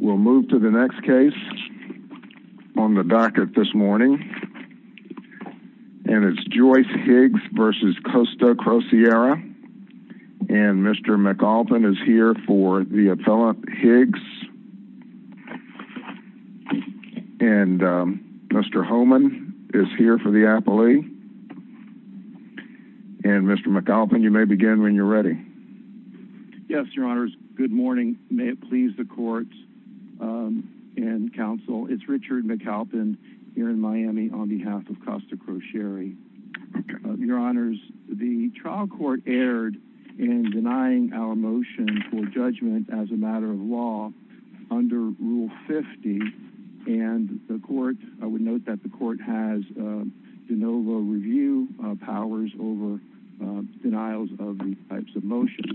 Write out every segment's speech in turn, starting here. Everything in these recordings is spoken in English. We'll move to the next case on the docket this morning And it's Joyce Higgs versus Costa Crosiere And Mr. McAulpin is here for the Appellant Higgs And Mr. Homan is here for the Appellee And Mr. McAulpin you may begin when you're ready Yes, your honors, good morning, may it please the courts And counsel, it's Richard McAlpin here in Miami on behalf of Costa Crosiere Your honors the trial court erred in denying our motion for judgment as a matter of law under Rule 50 and the court I would note that the court has de novo review powers over Denials of these types of motions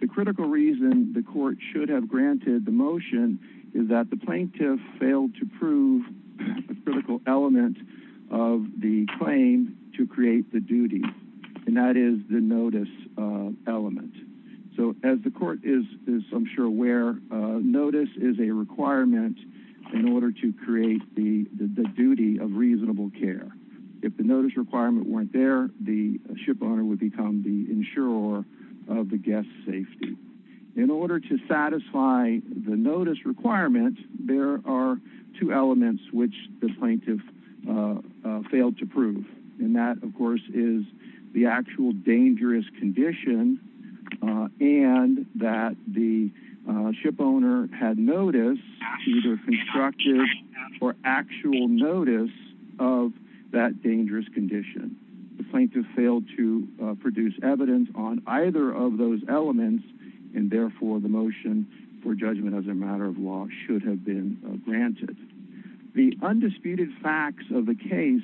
The critical reason the court should have granted the motion is that the plaintiff failed to prove a critical element Of the claim to create the duty and that is the notice Element. So as the court is is I'm sure aware Notice is a requirement in order to create the the duty of reasonable care If the notice requirement weren't there the shipowner would become the insurer of the guest safety In order to satisfy the notice requirement, there are two elements which the plaintiff Failed to prove and that of course is the actual dangerous condition and that the shipowner had notice either constructive or actual notice of that dangerous condition the plaintiff failed to produce evidence on either of those elements and Therefore the motion for judgment as a matter of law should have been granted The undisputed facts of the case.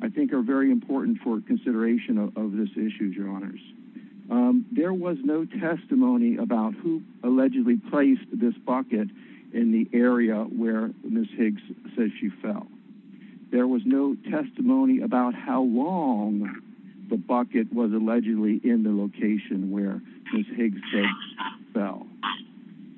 I think are very important for consideration of this issue your honors There was no testimony about who allegedly placed this bucket in the area where miss Higgs Says she fell There was no testimony about how long The bucket was allegedly in the location where she's Higgs fell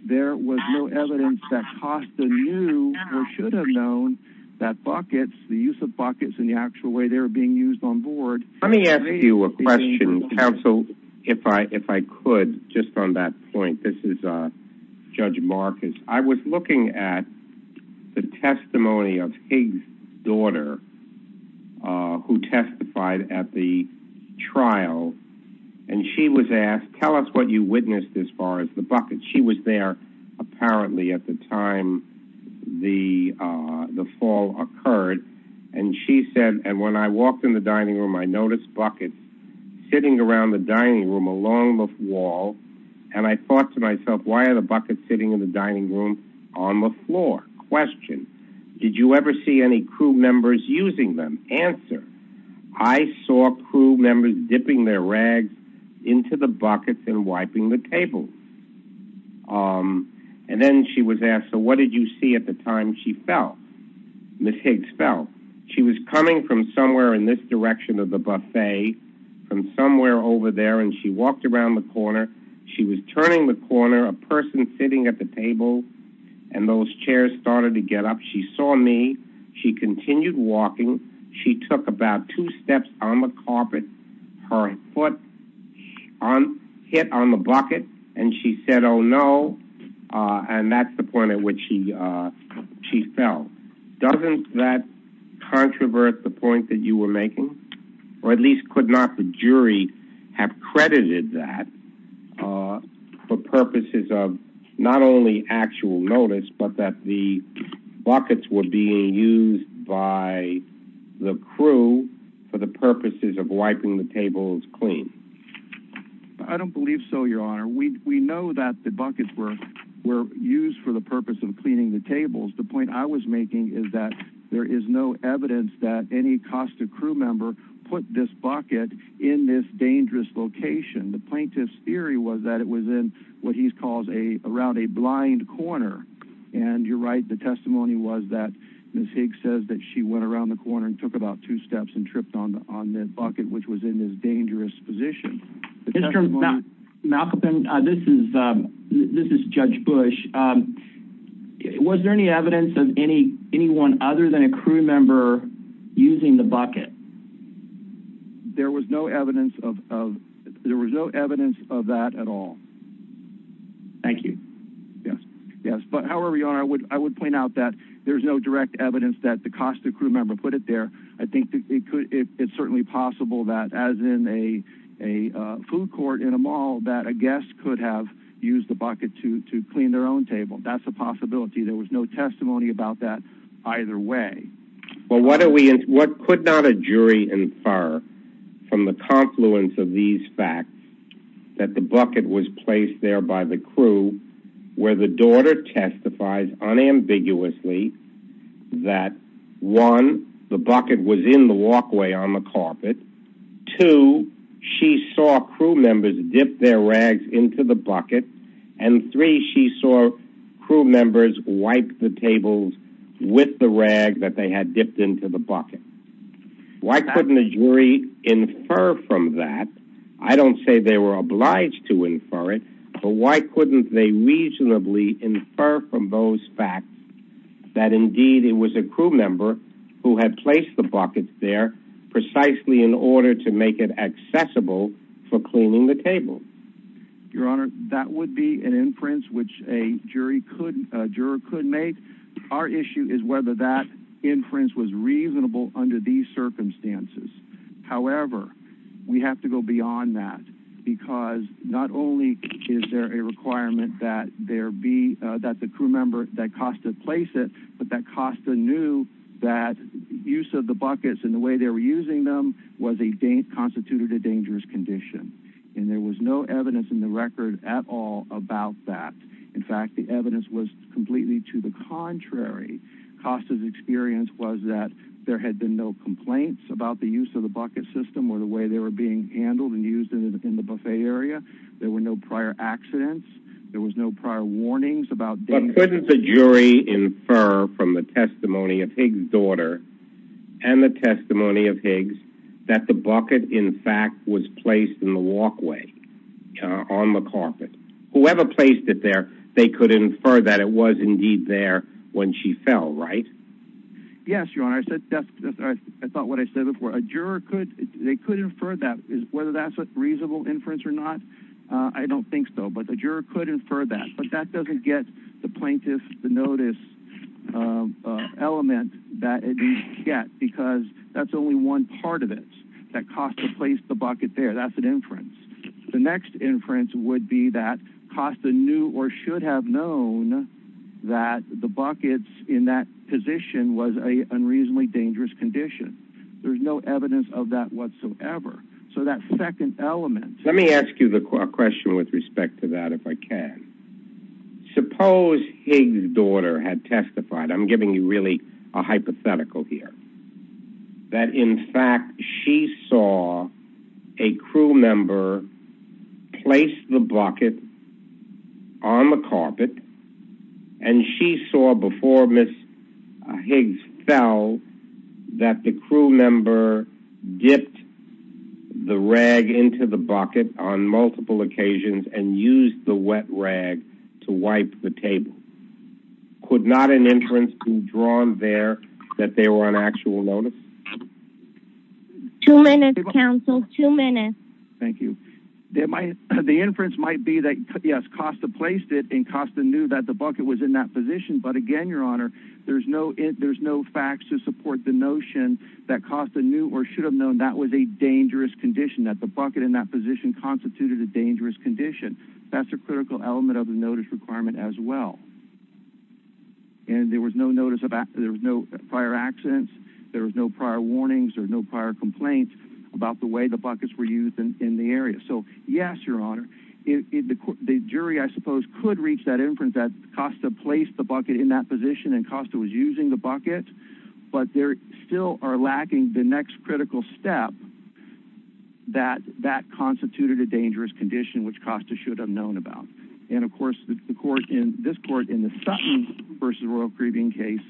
There was no evidence that Costa knew or should have known That buckets the use of buckets in the actual way they were being used on board Let me ask you a question counsel if I if I could just on that point. This is a Judge Marcus. I was looking at The testimony of Higgs daughter who testified at the Trial and she was asked tell us what you witnessed as far as the bucket. She was there apparently at the time The the fall occurred and she said and when I walked in the dining room, I noticed buckets Sitting around the dining room along the wall and I thought to myself Why are the buckets sitting in the dining room on the floor question? Did you ever see any crew members using them answer? I Saw crew members dipping their rags into the buckets and wiping the table And then she was asked. So what did you see at the time? She fell? Miss Higgs fell she was coming from somewhere in this direction of the buffet From somewhere over there and she walked around the corner She was turning the corner a person sitting at the table and those chairs started to get up. She saw me She continued walking. She took about two steps on the carpet her foot On hit on the bucket and she said oh, no And that's the point at which he She fell doesn't that Controvert the point that you were making or at least could not the jury have credited that for purposes of not only actual notice, but that the buckets were being used by The crew for the purposes of wiping the tables clean. I Don't believe so your honor We know that the buckets were were used for the purpose of cleaning the tables The point I was making is that there is no evidence that any cost a crew member put this bucket in this dangerous Location the plaintiff's theory was that it was in what he's called a around a blind corner and you're right The testimony was that miss Higgs says that she went around the corner and took about two steps and tripped on on the bucket Which was in this dangerous position Malcolm this is this is judge Bush It was there any evidence of any anyone other than a crew member using the bucket There was no evidence of there was no evidence of that at all Thank you. Yes. Yes, but however, your honor would I would point out that there's no direct evidence that the cost of crew member put it there I think it could it's certainly possible that as in a a Food court in a mall that a guest could have used the bucket to to clean their own table. That's a possibility There was no testimony about that either way Well, what are we and what could not a jury infer from the confluence of these facts that the bucket was placed? there by the crew where the daughter testifies unambiguously That one the bucket was in the walkway on the carpet To she saw crew members dip their rags into the bucket and three she saw Crew members wiped the tables with the rag that they had dipped into the bucket Why couldn't a jury infer from that? I don't say they were obliged to infer it But why couldn't they reasonably infer from those facts that? Indeed it was a crew member who had placed the buckets there Precisely in order to make it accessible for cleaning the table Your honor that would be an inference which a jury couldn't a juror could make our issue is whether that Inference was reasonable under these circumstances however, we have to go beyond that because Not only is there a requirement that there be that the crew member that cost to place it But that costa knew that Use of the buckets and the way they were using them was a date Constituted a dangerous condition and there was no evidence in the record at all about that In fact, the evidence was completely to the contrary Costas experience was that there had been no complaints about the use of the bucket system or the way they were being Handled and used in the buffet area. There were no prior accidents. There was no prior warnings about Couldn't the jury infer from the testimony of Higgs daughter and The testimony of Higgs that the bucket in fact was placed in the walkway On the carpet whoever placed it there. They could infer that it was indeed there when she fell, right? Yes, your honor. I said I thought what I said before a juror could they could infer that whether that's a reasonable inference or not I don't think so, but the juror could infer that but that doesn't get the plaintiff the notice Element that it get because that's only one part of it that cost to place the bucket there That's an inference. The next inference would be that cost the new or should have known That the buckets in that position was a unreasonably dangerous condition There's no evidence of that whatsoever So that second element, let me ask you the question with respect to that if I can Suppose Higgs daughter had testified. I'm giving you really a hypothetical here that in fact she saw a crew member placed the bucket on the carpet and She saw before miss Higgs fell That the crew member dipped The rag into the bucket on multiple occasions and used the wet rag to wipe the table Could not an inference been drawn there that they were on actual notice Two minutes counsel two minutes. Thank you There might the inference might be that yes cost of placed it in costa knew that the bucket was in that position But again, your honor There's no if there's no facts to support the notion that cost a new or should have known that was a dangerous Condition that the bucket in that position constituted a dangerous condition. That's a critical element of the notice requirement as well And there was no notice about there was no prior accidents. There was no prior warnings There's no prior complaints about the way the buckets were used in the area. So yes, your honor The jury I suppose could reach that inference that costa placed the bucket in that position and costa was using the bucket But there still are lacking the next critical step That that constituted a dangerous condition Which costa should have known about and of course the court in this court in the Sutton versus Royal Caribbean case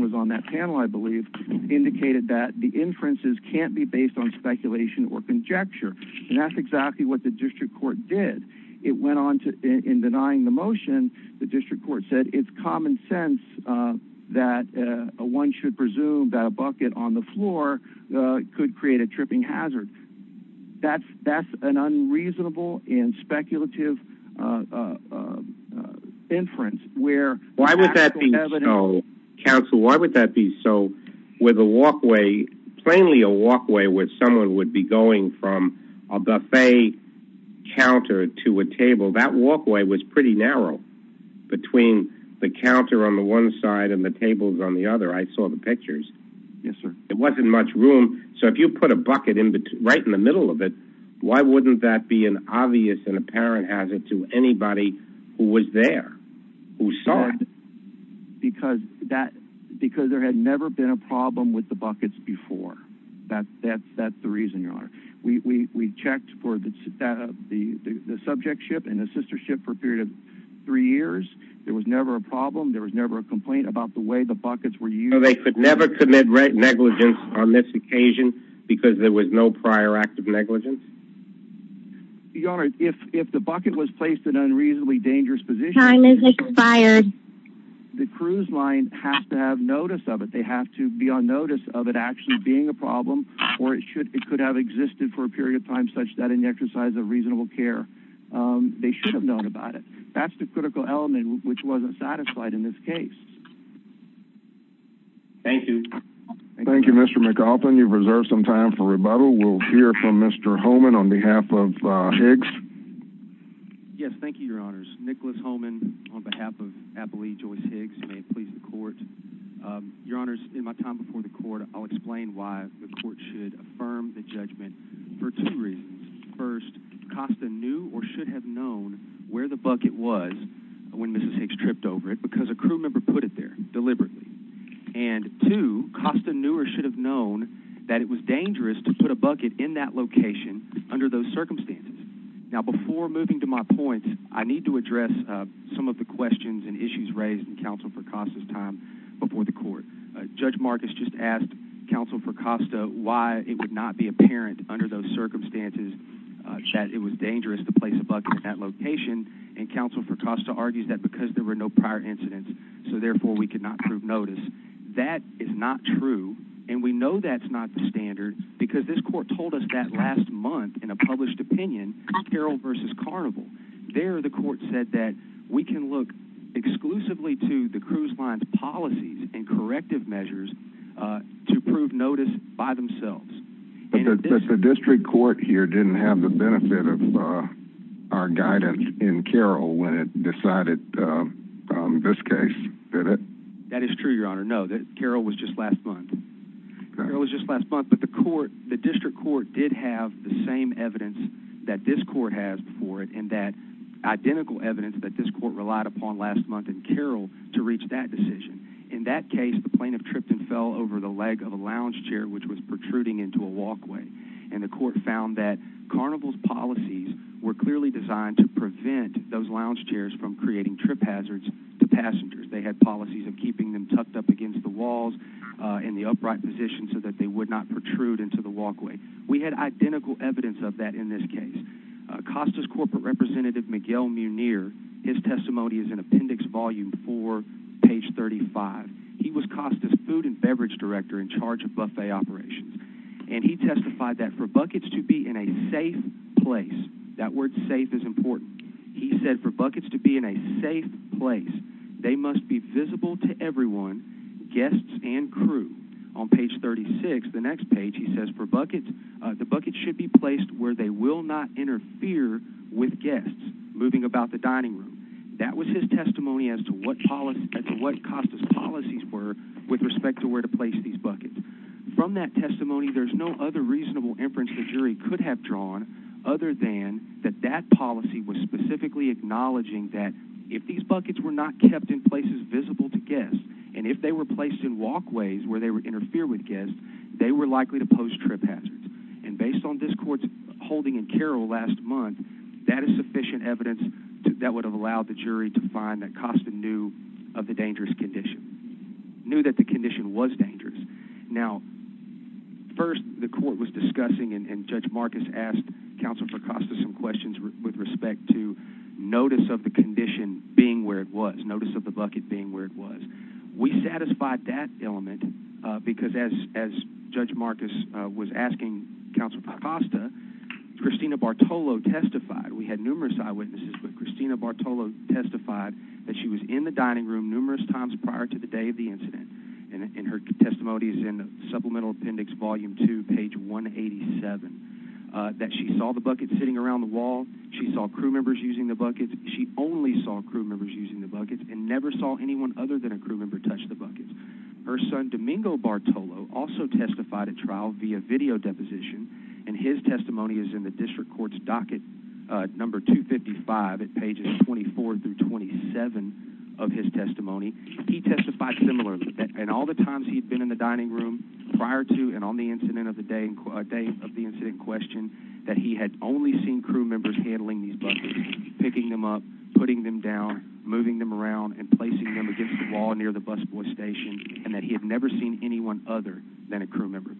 Was on that panel, I believe Indicated that the inferences can't be based on speculation or conjecture and that's exactly what the district court did It went on to in denying the motion. The district court said it's common sense That one should presume that a bucket on the floor Could create a tripping hazard That's that's an unreasonable in speculative Inference where why would that be? Counsel why would that be so with a walkway plainly a walkway with someone would be going from a buffet Counter to a table that walkway was pretty narrow Between the counter on the one side and the tables on the other. I saw the pictures. Yes, sir It wasn't much room. So if you put a bucket in between right in the middle of it Why wouldn't that be an obvious and apparent hazard to anybody who was there who saw it? Because that because there had never been a problem with the buckets before that that's that's the reason you are we Checked for the that of the the subject ship and the sister ship for a period of three years. There was never a problem There was never a complaint about the way the buckets were you know They could never commit right negligence on this occasion because there was no prior act of negligence Your honor if if the bucket was placed an unreasonably dangerous position The cruise line has to have notice of it They have to be on notice of it actually being a problem or it should it could have existed for a period of time such That in the exercise of reasonable care They should have known about it. That's the critical element which wasn't satisfied in this case Thank you Thank You mr. McAuliffe and you've reserved some time for rebuttal we'll hear from mr. Holman on behalf of Higgs Yes, thank you. Your honors. Nicholas Holman on behalf of happily joy Higgs, please the court Your honors in my time before the court. I'll explain why the court should affirm the judgment for two reasons first Costa knew or should have known where the bucket was When mrs. Higgs tripped over it because a crew member put it there deliberately and To Costa knew or should have known that it was dangerous to put a bucket in that location under those circumstances Now before moving to my point I need to address some of the questions and issues raised in counsel for costas time before the court judge Marcus Just asked counsel for Costa why it would not be apparent under those circumstances That it was dangerous to place a bucket at location and counsel for Costa argues that because there were no prior incidents So therefore we could not prove notice That is not true And we know that's not the standard because this court told us that last month in a published opinion Carol versus carnival there the court said that we can look exclusively to the cruise lines policies and corrective measures To prove notice by themselves But the district court here didn't have the benefit of our guidance in Carol when it decided This case that it that is true. Your honor. No that Carol was just last month It was just last month but the court the district court did have the same evidence that this court has before it and that Identical evidence that this court relied upon last month and Carol to reach that decision in that case the plaintiff tripped and fell Over the leg of a lounge chair, which was protruding into a walkway and the court found that Carnival's policies were clearly designed to prevent those lounge chairs from creating trip hazards to passengers They had policies of keeping them tucked up against the walls In the upright position so that they would not protrude into the walkway. We had identical evidence of that in this case Costas corporate representative Miguel Munir his testimony is an appendix volume for page 35 He was Costas food and beverage director in charge of buffet operations And he testified that for buckets to be in a safe place that word safe is important He said for buckets to be in a safe place. They must be visible to everyone Guests and crew on page 36 the next page He says for buckets the buckets should be placed where they will not interfere with guests moving about the dining room That was his testimony as to what policy to what Costas policies were with respect to where to place these buckets From that testimony. There's no other reasonable inference The jury could have drawn other than that that policy was specifically Acknowledging that if these buckets were not kept in places visible to guests and if they were placed in walkways where they would interfere with Guests they were likely to pose trip hazards and based on this courts holding and Carol last month That is sufficient evidence that would have allowed the jury to find that Costa knew of the dangerous condition Knew that the condition was dangerous now first the court was discussing and judge Marcus asked counsel for Costa some questions with respect to Notice of the condition being where it was notice of the bucket being where it was We satisfied that element because as as judge Marcus was asking counsel for Costa Christina Bartolo testified we had numerous eyewitnesses with Christina Bartolo Testified that she was in the dining room numerous times prior to the day of the incident and in her testimonies in Supplemental Appendix volume 2 page 187 That she saw the bucket sitting around the wall. She saw crew members using the buckets She only saw crew members using the buckets and never saw anyone other than a crew member touch the buckets Her son Domingo Bartolo also testified at trial via video deposition and his testimony is in the district courts docket Number 255 at pages 24 through 27 of his testimony He testified similar and all the times he'd been in the dining room Prior to and on the incident of the day and a day of the incident question that he had only seen crew members handling These buckets picking them up putting them down moving them around and placing them against the wall near the busboy station And that he had never seen anyone other than a crew member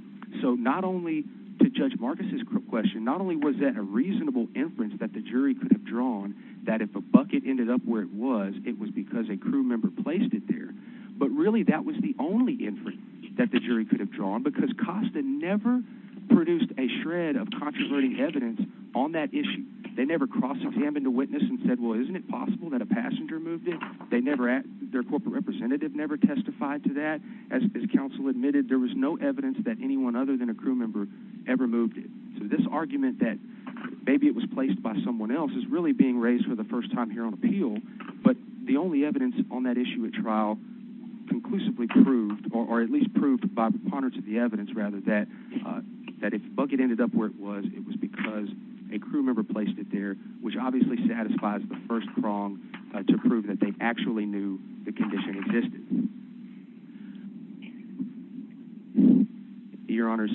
So not only to judge Marcus's question Not only was that a reasonable inference that the jury could have drawn That if a bucket ended up where it was it was because a crew member placed it there But really that was the only inference that the jury could have drawn because Costa never Produced a shred of controverting evidence on that issue They never crossed him into witness and said well, isn't it possible that a passenger moved it? They never at their corporate representative never testified to that as counsel admitted There was no evidence that anyone other than a crew member ever moved it So this argument that maybe it was placed by someone else is really being raised for the first time here on appeal But the only evidence on that issue at trial Conclusively proved or at least proved by preponderance of the evidence rather that That if bucket ended up where it was it was because a crew member placed it there which obviously satisfies the first prong To prove that they actually knew the condition existed Your honors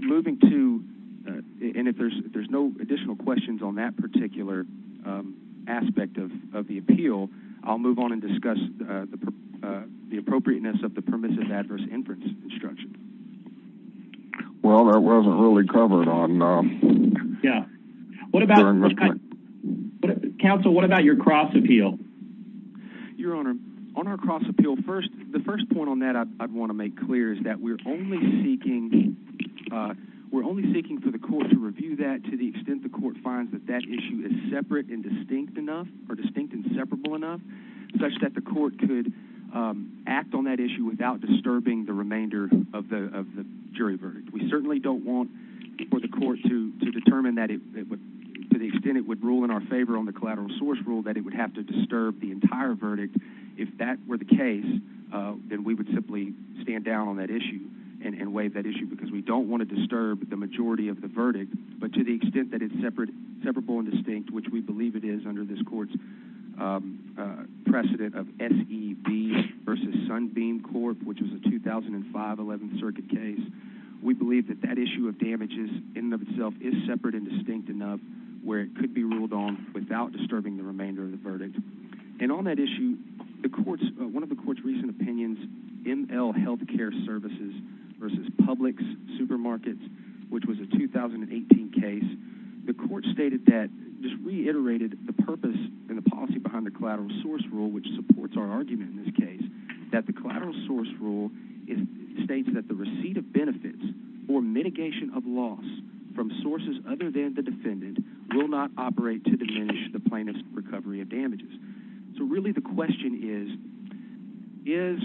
moving to and if there's there's no additional questions on that particular Aspect of the appeal I'll move on and discuss the appropriateness of the permissive adverse inference instruction Well, that wasn't really covered on Yeah, what about? But counsel, what about your cross appeal Your honor on our cross appeal first the first point on that. I'd want to make clear is that we're only seeking We're only seeking for the court to review that to the extent the court finds that that issue is separate and distinct enough or distinct and separable enough such that the court could Act on that issue without disturbing the remainder of the of the jury verdict We certainly don't want for the court to to determine that it To the extent it would rule in our favor on the collateral source rule that it would have to disturb the entire verdict if that Were the case? Then we would simply stand down on that issue and and waive that issue because we don't want to disturb the majority of the verdict But to the extent that it's separate separable and distinct which we believe it is under this court's Precedent of SEB versus Sunbeam Court, which was a 2005 11th Circuit case We believe that that issue of damages in and of itself is separate and distinct enough where it could be ruled on without Disturbing the remainder of the verdict and on that issue the courts one of the court's recent opinions ML health care services versus Publix supermarkets, which was a 2018 case the court stated that just reiterated the purpose and the policy behind the collateral source rule Which supports our argument in this case that the collateral source rule? States that the receipt of benefits or mitigation of loss from sources other than the defendant will not operate to diminish the plaintiffs recovery of damages so really the question is is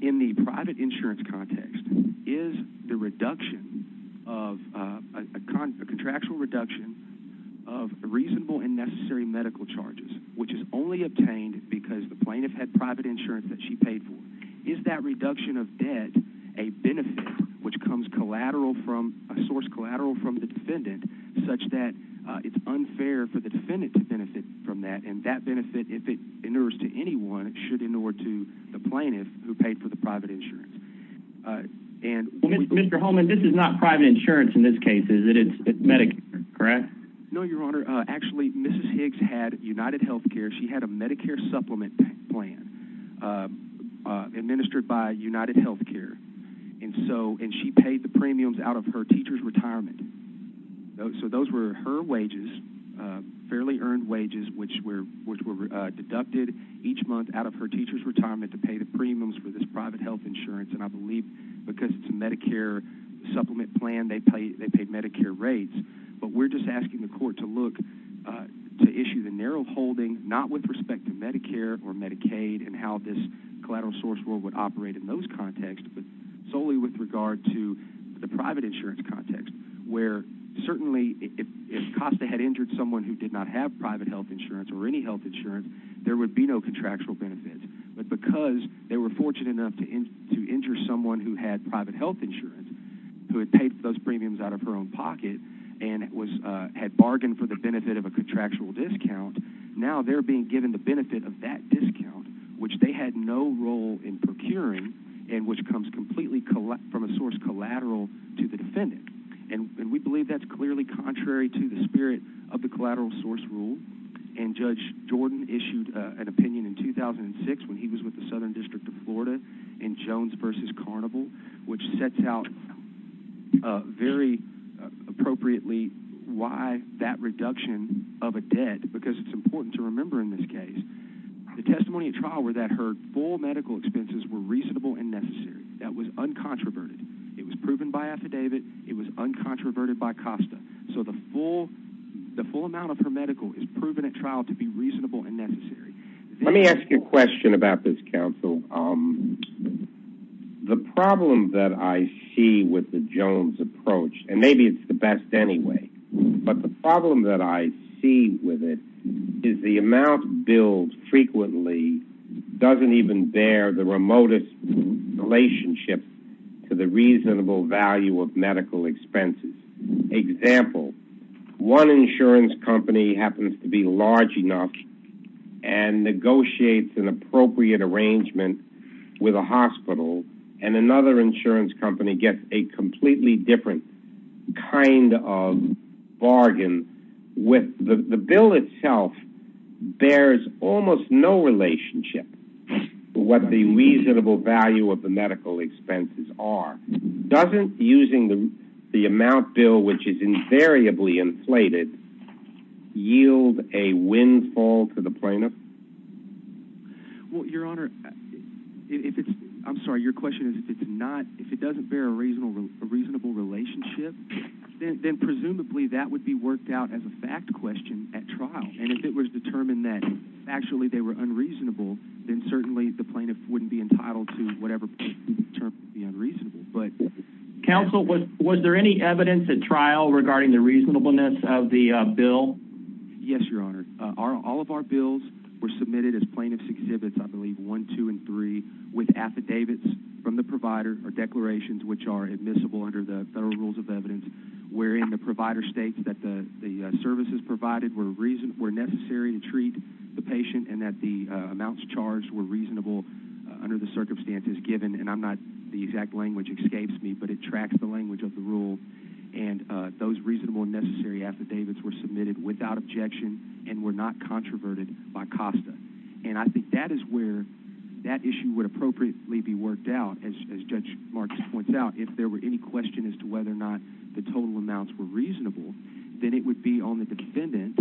in the private insurance context is the reduction of a contractual reduction of Reasonable and necessary medical charges which is only obtained because the plaintiff had private insurance that she paid for is that reduction of debt a benefit which comes collateral from a source collateral from the defendant such that It's unfair for the defendant to benefit from that and that benefit if it endures to anyone it should in order to The plaintiff who paid for the private insurance And mr. Holman, this is not private insurance in this case. Is it? It's medic, correct? No, your honor Actually, mrs. Higgs had United Health Care. She had a Medicare supplement plan Administered by United Health Care and so and she paid the premiums out of her teachers retirement So those were her wages fairly earned wages Which were which were deducted each month out of her teachers retirement to pay the premiums for this private health insurance And I believe because it's a Medicare Supplement plan they pay they paid Medicare rates, but we're just asking the court to look To issue the narrow holding not with respect to Medicare or Medicaid and how this Collateral source world would operate in those contexts, but solely with regard to the private insurance context where? Certainly if Costa had injured someone who did not have private health insurance or any health insurance There would be no contractual benefits But because they were fortunate enough to in to injure someone who had private health insurance Who had paid for those premiums out of her own pocket and it was had bargained for the benefit of a contractual discount Now they're being given the benefit of that discount which they had no role in procuring and which comes completely collect from a source collateral to the defendant and we believe that's clearly contrary to the spirit of the collateral source rule and Judge Jordan issued an opinion in 2006 when he was with the Southern District of Florida in Jones versus carnival which sets out very Appropriately why that reduction of a debt because it's important to remember in this case The testimony at trial were that her full medical expenses were reasonable and necessary. That was uncontroverted It was proven by affidavit. It was uncontroverted by Costa So the full the full amount of her medical is proven at trial to be reasonable and necessary Let me ask you a question about this counsel. Um The problem that I see with the Jones approach and maybe it's the best anyway But the problem that I see with it is the amount billed frequently Doesn't even bear the remotest relationship to the reasonable value of medical expenses example one insurance company happens to be large enough and Negotiates an appropriate arrangement with a hospital and another insurance company gets a completely different kind of Bargain with the bill itself Bears almost no relationship What the reasonable value of the medical expenses are doesn't using them the amount bill, which is invariably inflated yield a Infall to the plaintiff Well, your honor If it's I'm sorry, your question is if it's not if it doesn't bear a reasonable a reasonable relationship then presumably that would be worked out as a fact question at trial and if it was determined that Actually, they were unreasonable. Then certainly the plaintiff wouldn't be entitled to whatever But Counsel was was there any evidence at trial regarding the reasonableness of the bill? Yes, your honor Our all of our bills were submitted as plaintiffs exhibits I believe one two and three with affidavits from the provider or declarations which are admissible under the federal rules of evidence where in the provider states that the Services provided were reason we're necessary to treat the patient and that the amounts charged were reasonable under the circumstances given and I'm not the exact language escapes me, but it tracks the language of the rule and Those reasonable necessary affidavits were submitted without objection and were not Controverted by costa and I think that is where that issue would appropriately be worked out as Judge Marcus points out if there were any question as to whether or not the total amounts were reasonable Then it would be on the defendant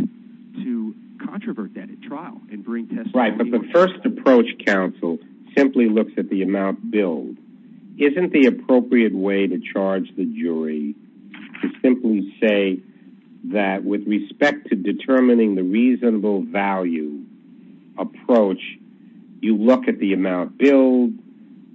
to Controvert that at trial and bring test right, but the first approach counsel simply looks at the amount bill Isn't the appropriate way to charge the jury? Simply say that with respect to determining the reasonable value approach You look at the amount bill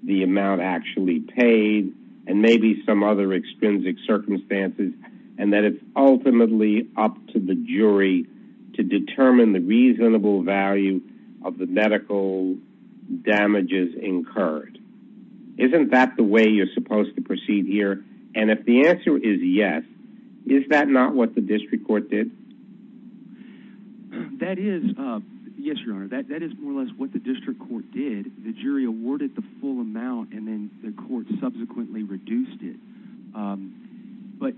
the amount actually paid and maybe some other extrinsic circumstances and that it's Ultimately up to the jury to determine the reasonable value of the medical damages incurred Isn't that the way you're supposed to proceed here and if the answer is yes, is that not what the district court did That is Yes, your honor that that is more or less what the district court did the jury awarded the full amount and then the court subsequently reduced it But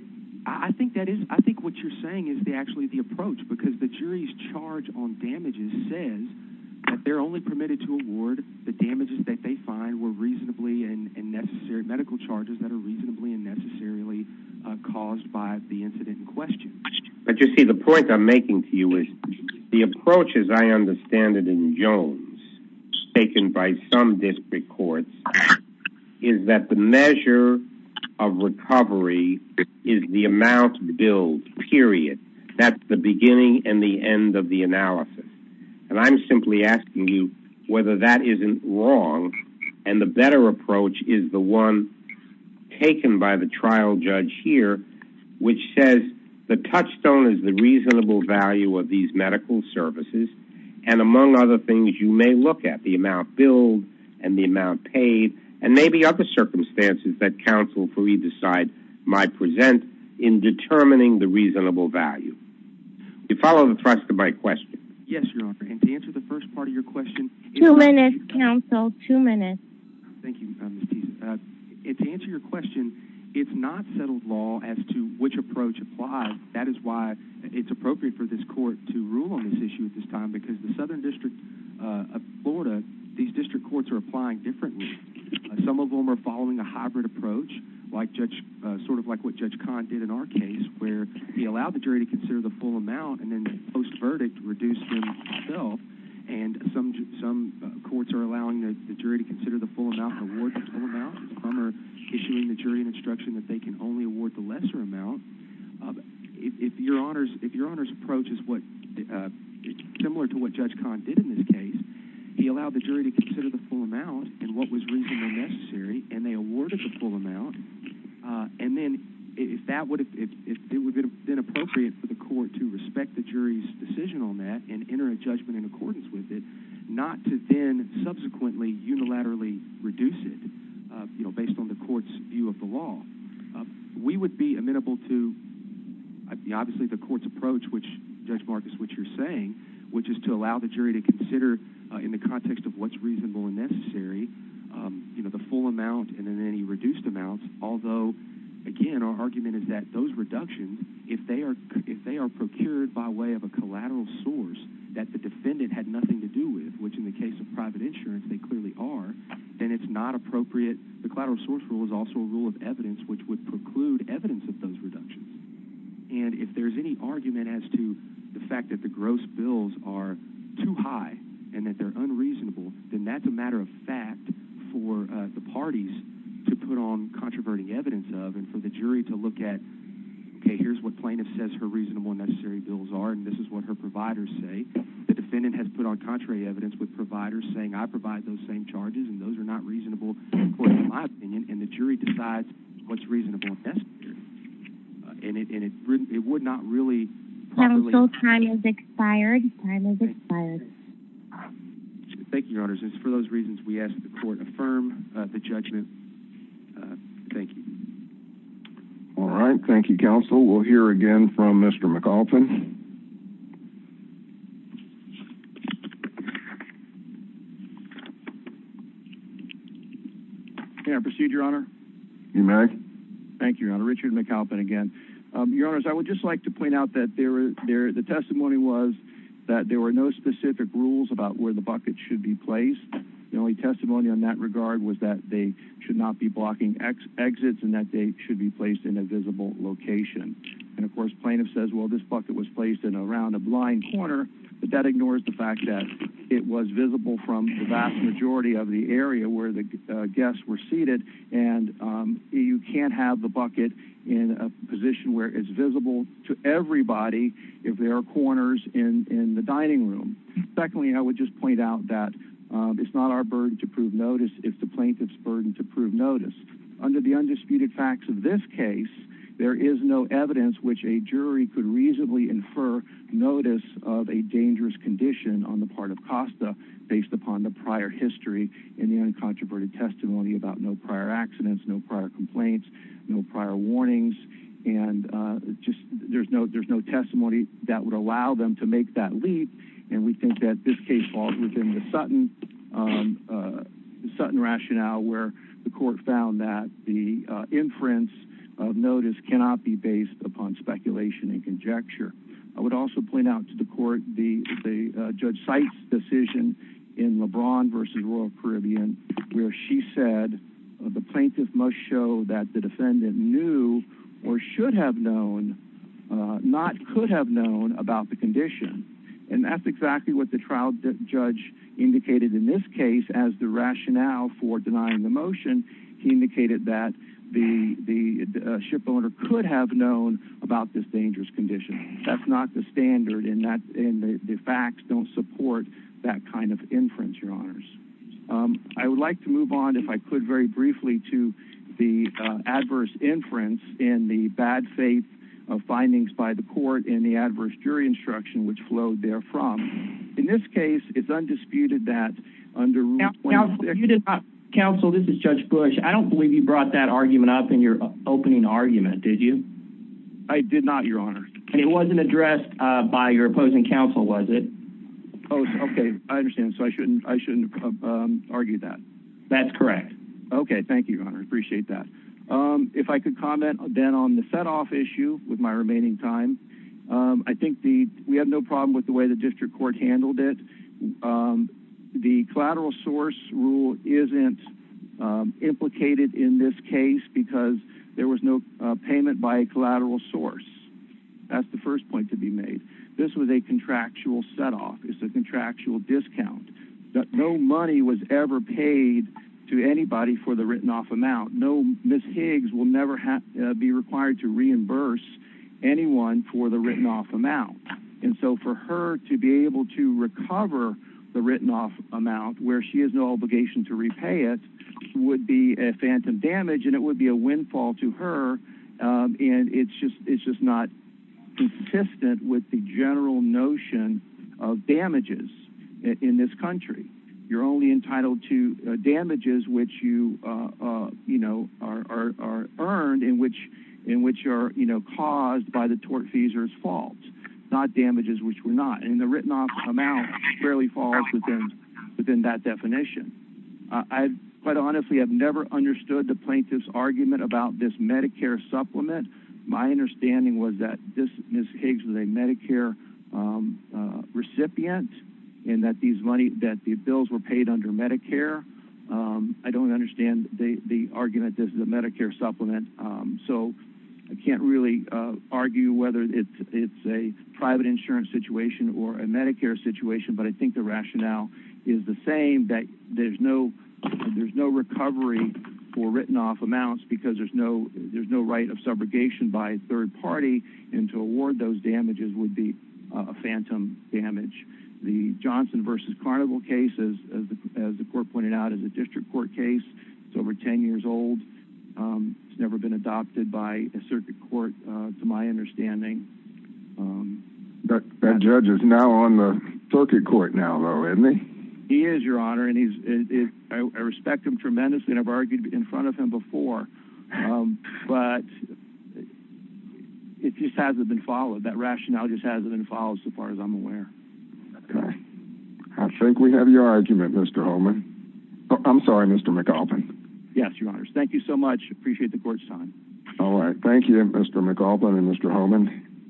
I think that is I think what you're saying is they actually the approach because the jury's charge on damages says But they're only permitted to award the damages that they find were reasonably and necessary medical charges that are reasonably and necessarily Caused by the incident in question, but you see the point I'm making to you is the approach as I understand it in Jones taken by some district courts is that the measure of Recovery is the amount bill period that's the beginning and the end of the analysis And I'm simply asking you whether that isn't wrong and the better approach is the one Taken by the trial judge here which says the touchstone is the reasonable value of these medical services and Among other things you may look at the amount bill and the amount paid and maybe other Circumstances that counsel for either side might present in determining the reasonable value You follow the thrust of my question Yes, your honor and to answer the first part of your question two minutes counsel two minutes Thank you It's answer your question. It's not settled law as to which approach applies That is why it's appropriate for this court to rule on this issue at this time because the Southern District Florida these district courts are applying differently Some of them are following a hybrid approach Like judge sort of like what judge khan did in our case where he allowed the jury to consider the full amount and then post verdict reduced And some some courts are allowing the jury to consider the full amount Issuing the jury an instruction that they can only award the lesser amount if your honors if your honors approach is what Similar to what judge khan did in this case He allowed the jury to consider the full amount and what was reasonable necessary and they awarded the full amount And then if that would if it would have been appropriate for the court to respect the jury's Decision on that and enter a judgment in accordance with it not to then subsequently Unilaterally reduce it, you know based on the court's view of the law we would be amenable to Obviously the court's approach which judge Marcus which you're saying which is to allow the jury to consider in the context of what's reasonable and necessary You know the full amount and then any reduced amounts although Again, our argument is that those reductions if they are if they are procured by way of a collateral source That the defendant had nothing to do with which in the case of private insurance They clearly are then it's not appropriate the collateral source rule is also a rule of evidence which would preclude evidence of those reductions and if there's any argument as to the fact that the gross bills are too high and that they're Unreasonable then that's a matter of fact for the parties to put on Controversy evidence of and for the jury to look at Okay, here's what plaintiff says her reasonable necessary bills are and this is what her providers say The defendant has put on contrary evidence with providers saying I provide those same charges and those are not reasonable And the jury decides what's reasonable And it wouldn't it would not really have until time is expired Thank you honors is for those reasons we ask the court affirm the judgment Thank you All right. Thank you counsel. We'll hear again from mr. McAlpin Can I proceed your honor you may thank you your honor Richard McAlpin again your honors I would just like to point out that there were there the testimony was That there were no specific rules about where the bucket should be placed The only testimony on that regard was that they should not be blocking X exits and that they should be placed in a visible Location and of course plaintiff says well this bucket was placed in around a blind corner but that ignores the fact that it was visible from the vast majority of the area where the guests were seated and You can't have the bucket in a position where it's visible to everybody if there are corners in In the dining room secondly, I would just point out that It's not our burden to prove notice if the plaintiff's burden to prove notice under the undisputed facts of this case There is no evidence which a jury could reasonably infer Notice of a dangerous condition on the part of costa based upon the prior history in the uncontroverted Testimony about no prior accidents. No prior complaints. No prior warnings and Just there's no there's no testimony that would allow them to make that leap and we think that this case falls within the Sutton Sutton rationale where the court found that the Inference of notice cannot be based upon speculation and conjecture I would also point out to the court the the judge sites decision in LeBron versus Royal Caribbean Where she said the plaintiff must show that the defendant knew or should have known Not could have known about the condition and that's exactly what the trial judge Indicated in this case as the rationale for denying the motion He indicated that the the shipowner could have known about this dangerous condition That's not the standard and that in the facts don't support that kind of inference your honors I would like to move on if I could very briefly to the adverse inference in the bad faith of Findings by the court in the adverse jury instruction which flowed there from in this case. It's undisputed that Counsel this is judge Bush. I don't believe you brought that argument up in your opening argument. Did you I Did not your honor and it wasn't addressed by your opposing counsel. Was it? Oh Okay, I understand so I shouldn't I shouldn't Argue that that's correct. Okay. Thank you. I appreciate that If I could comment then on the setoff issue with my remaining time I think the we have no problem with the way the district court handled it the collateral source rule isn't Implicated in this case because there was no payment by a collateral source That's the first point to be made this was a contractual setoff It's a contractual discount that no money was ever paid to anybody for the written-off amount No, miss Higgs will never have to be required to reimburse Anyone for the written-off amount and so for her to be able to recover The written-off amount where she has no obligation to repay it Would be a phantom damage and it would be a windfall to her And it's just it's just not consistent with the general notion of Damages in this country. You're only entitled to damages, which you You know are earned in which in which are you know caused by the tort fees or its fault? Not damages, which were not in the written-off amount fairly falls within within that definition I've quite honestly have never understood the plaintiff's argument about this Medicare supplement My understanding was that this miss Higgs was a Medicare Recipient and that these money that the bills were paid under Medicare I don't understand the argument. This is a Medicare supplement So I can't really argue whether it's it's a private insurance situation or a Medicare situation But I think the rationale is the same that there's no there's no recovery for written-off amounts because there's no there's no right of subrogation by a third party and to award those damages would be a Phantom damage the Johnson versus Carnival cases as the court pointed out as a district court case. It's over 10 years old It's never been adopted by a circuit court to my understanding But that judge is now on the circuit court now though in me he is your honor and he's Respect him tremendously and I've argued in front of him before but It just hasn't been followed that rationale just hasn't been followed so far as I'm aware Okay, I think we have your argument. Mr. Holman. I'm sorry. Mr. McAuliffe. Yes, your honors. Thank you so much Appreciate the court's time. All right. Thank you. Mr. McAuliffe and Mr. Holman Thank you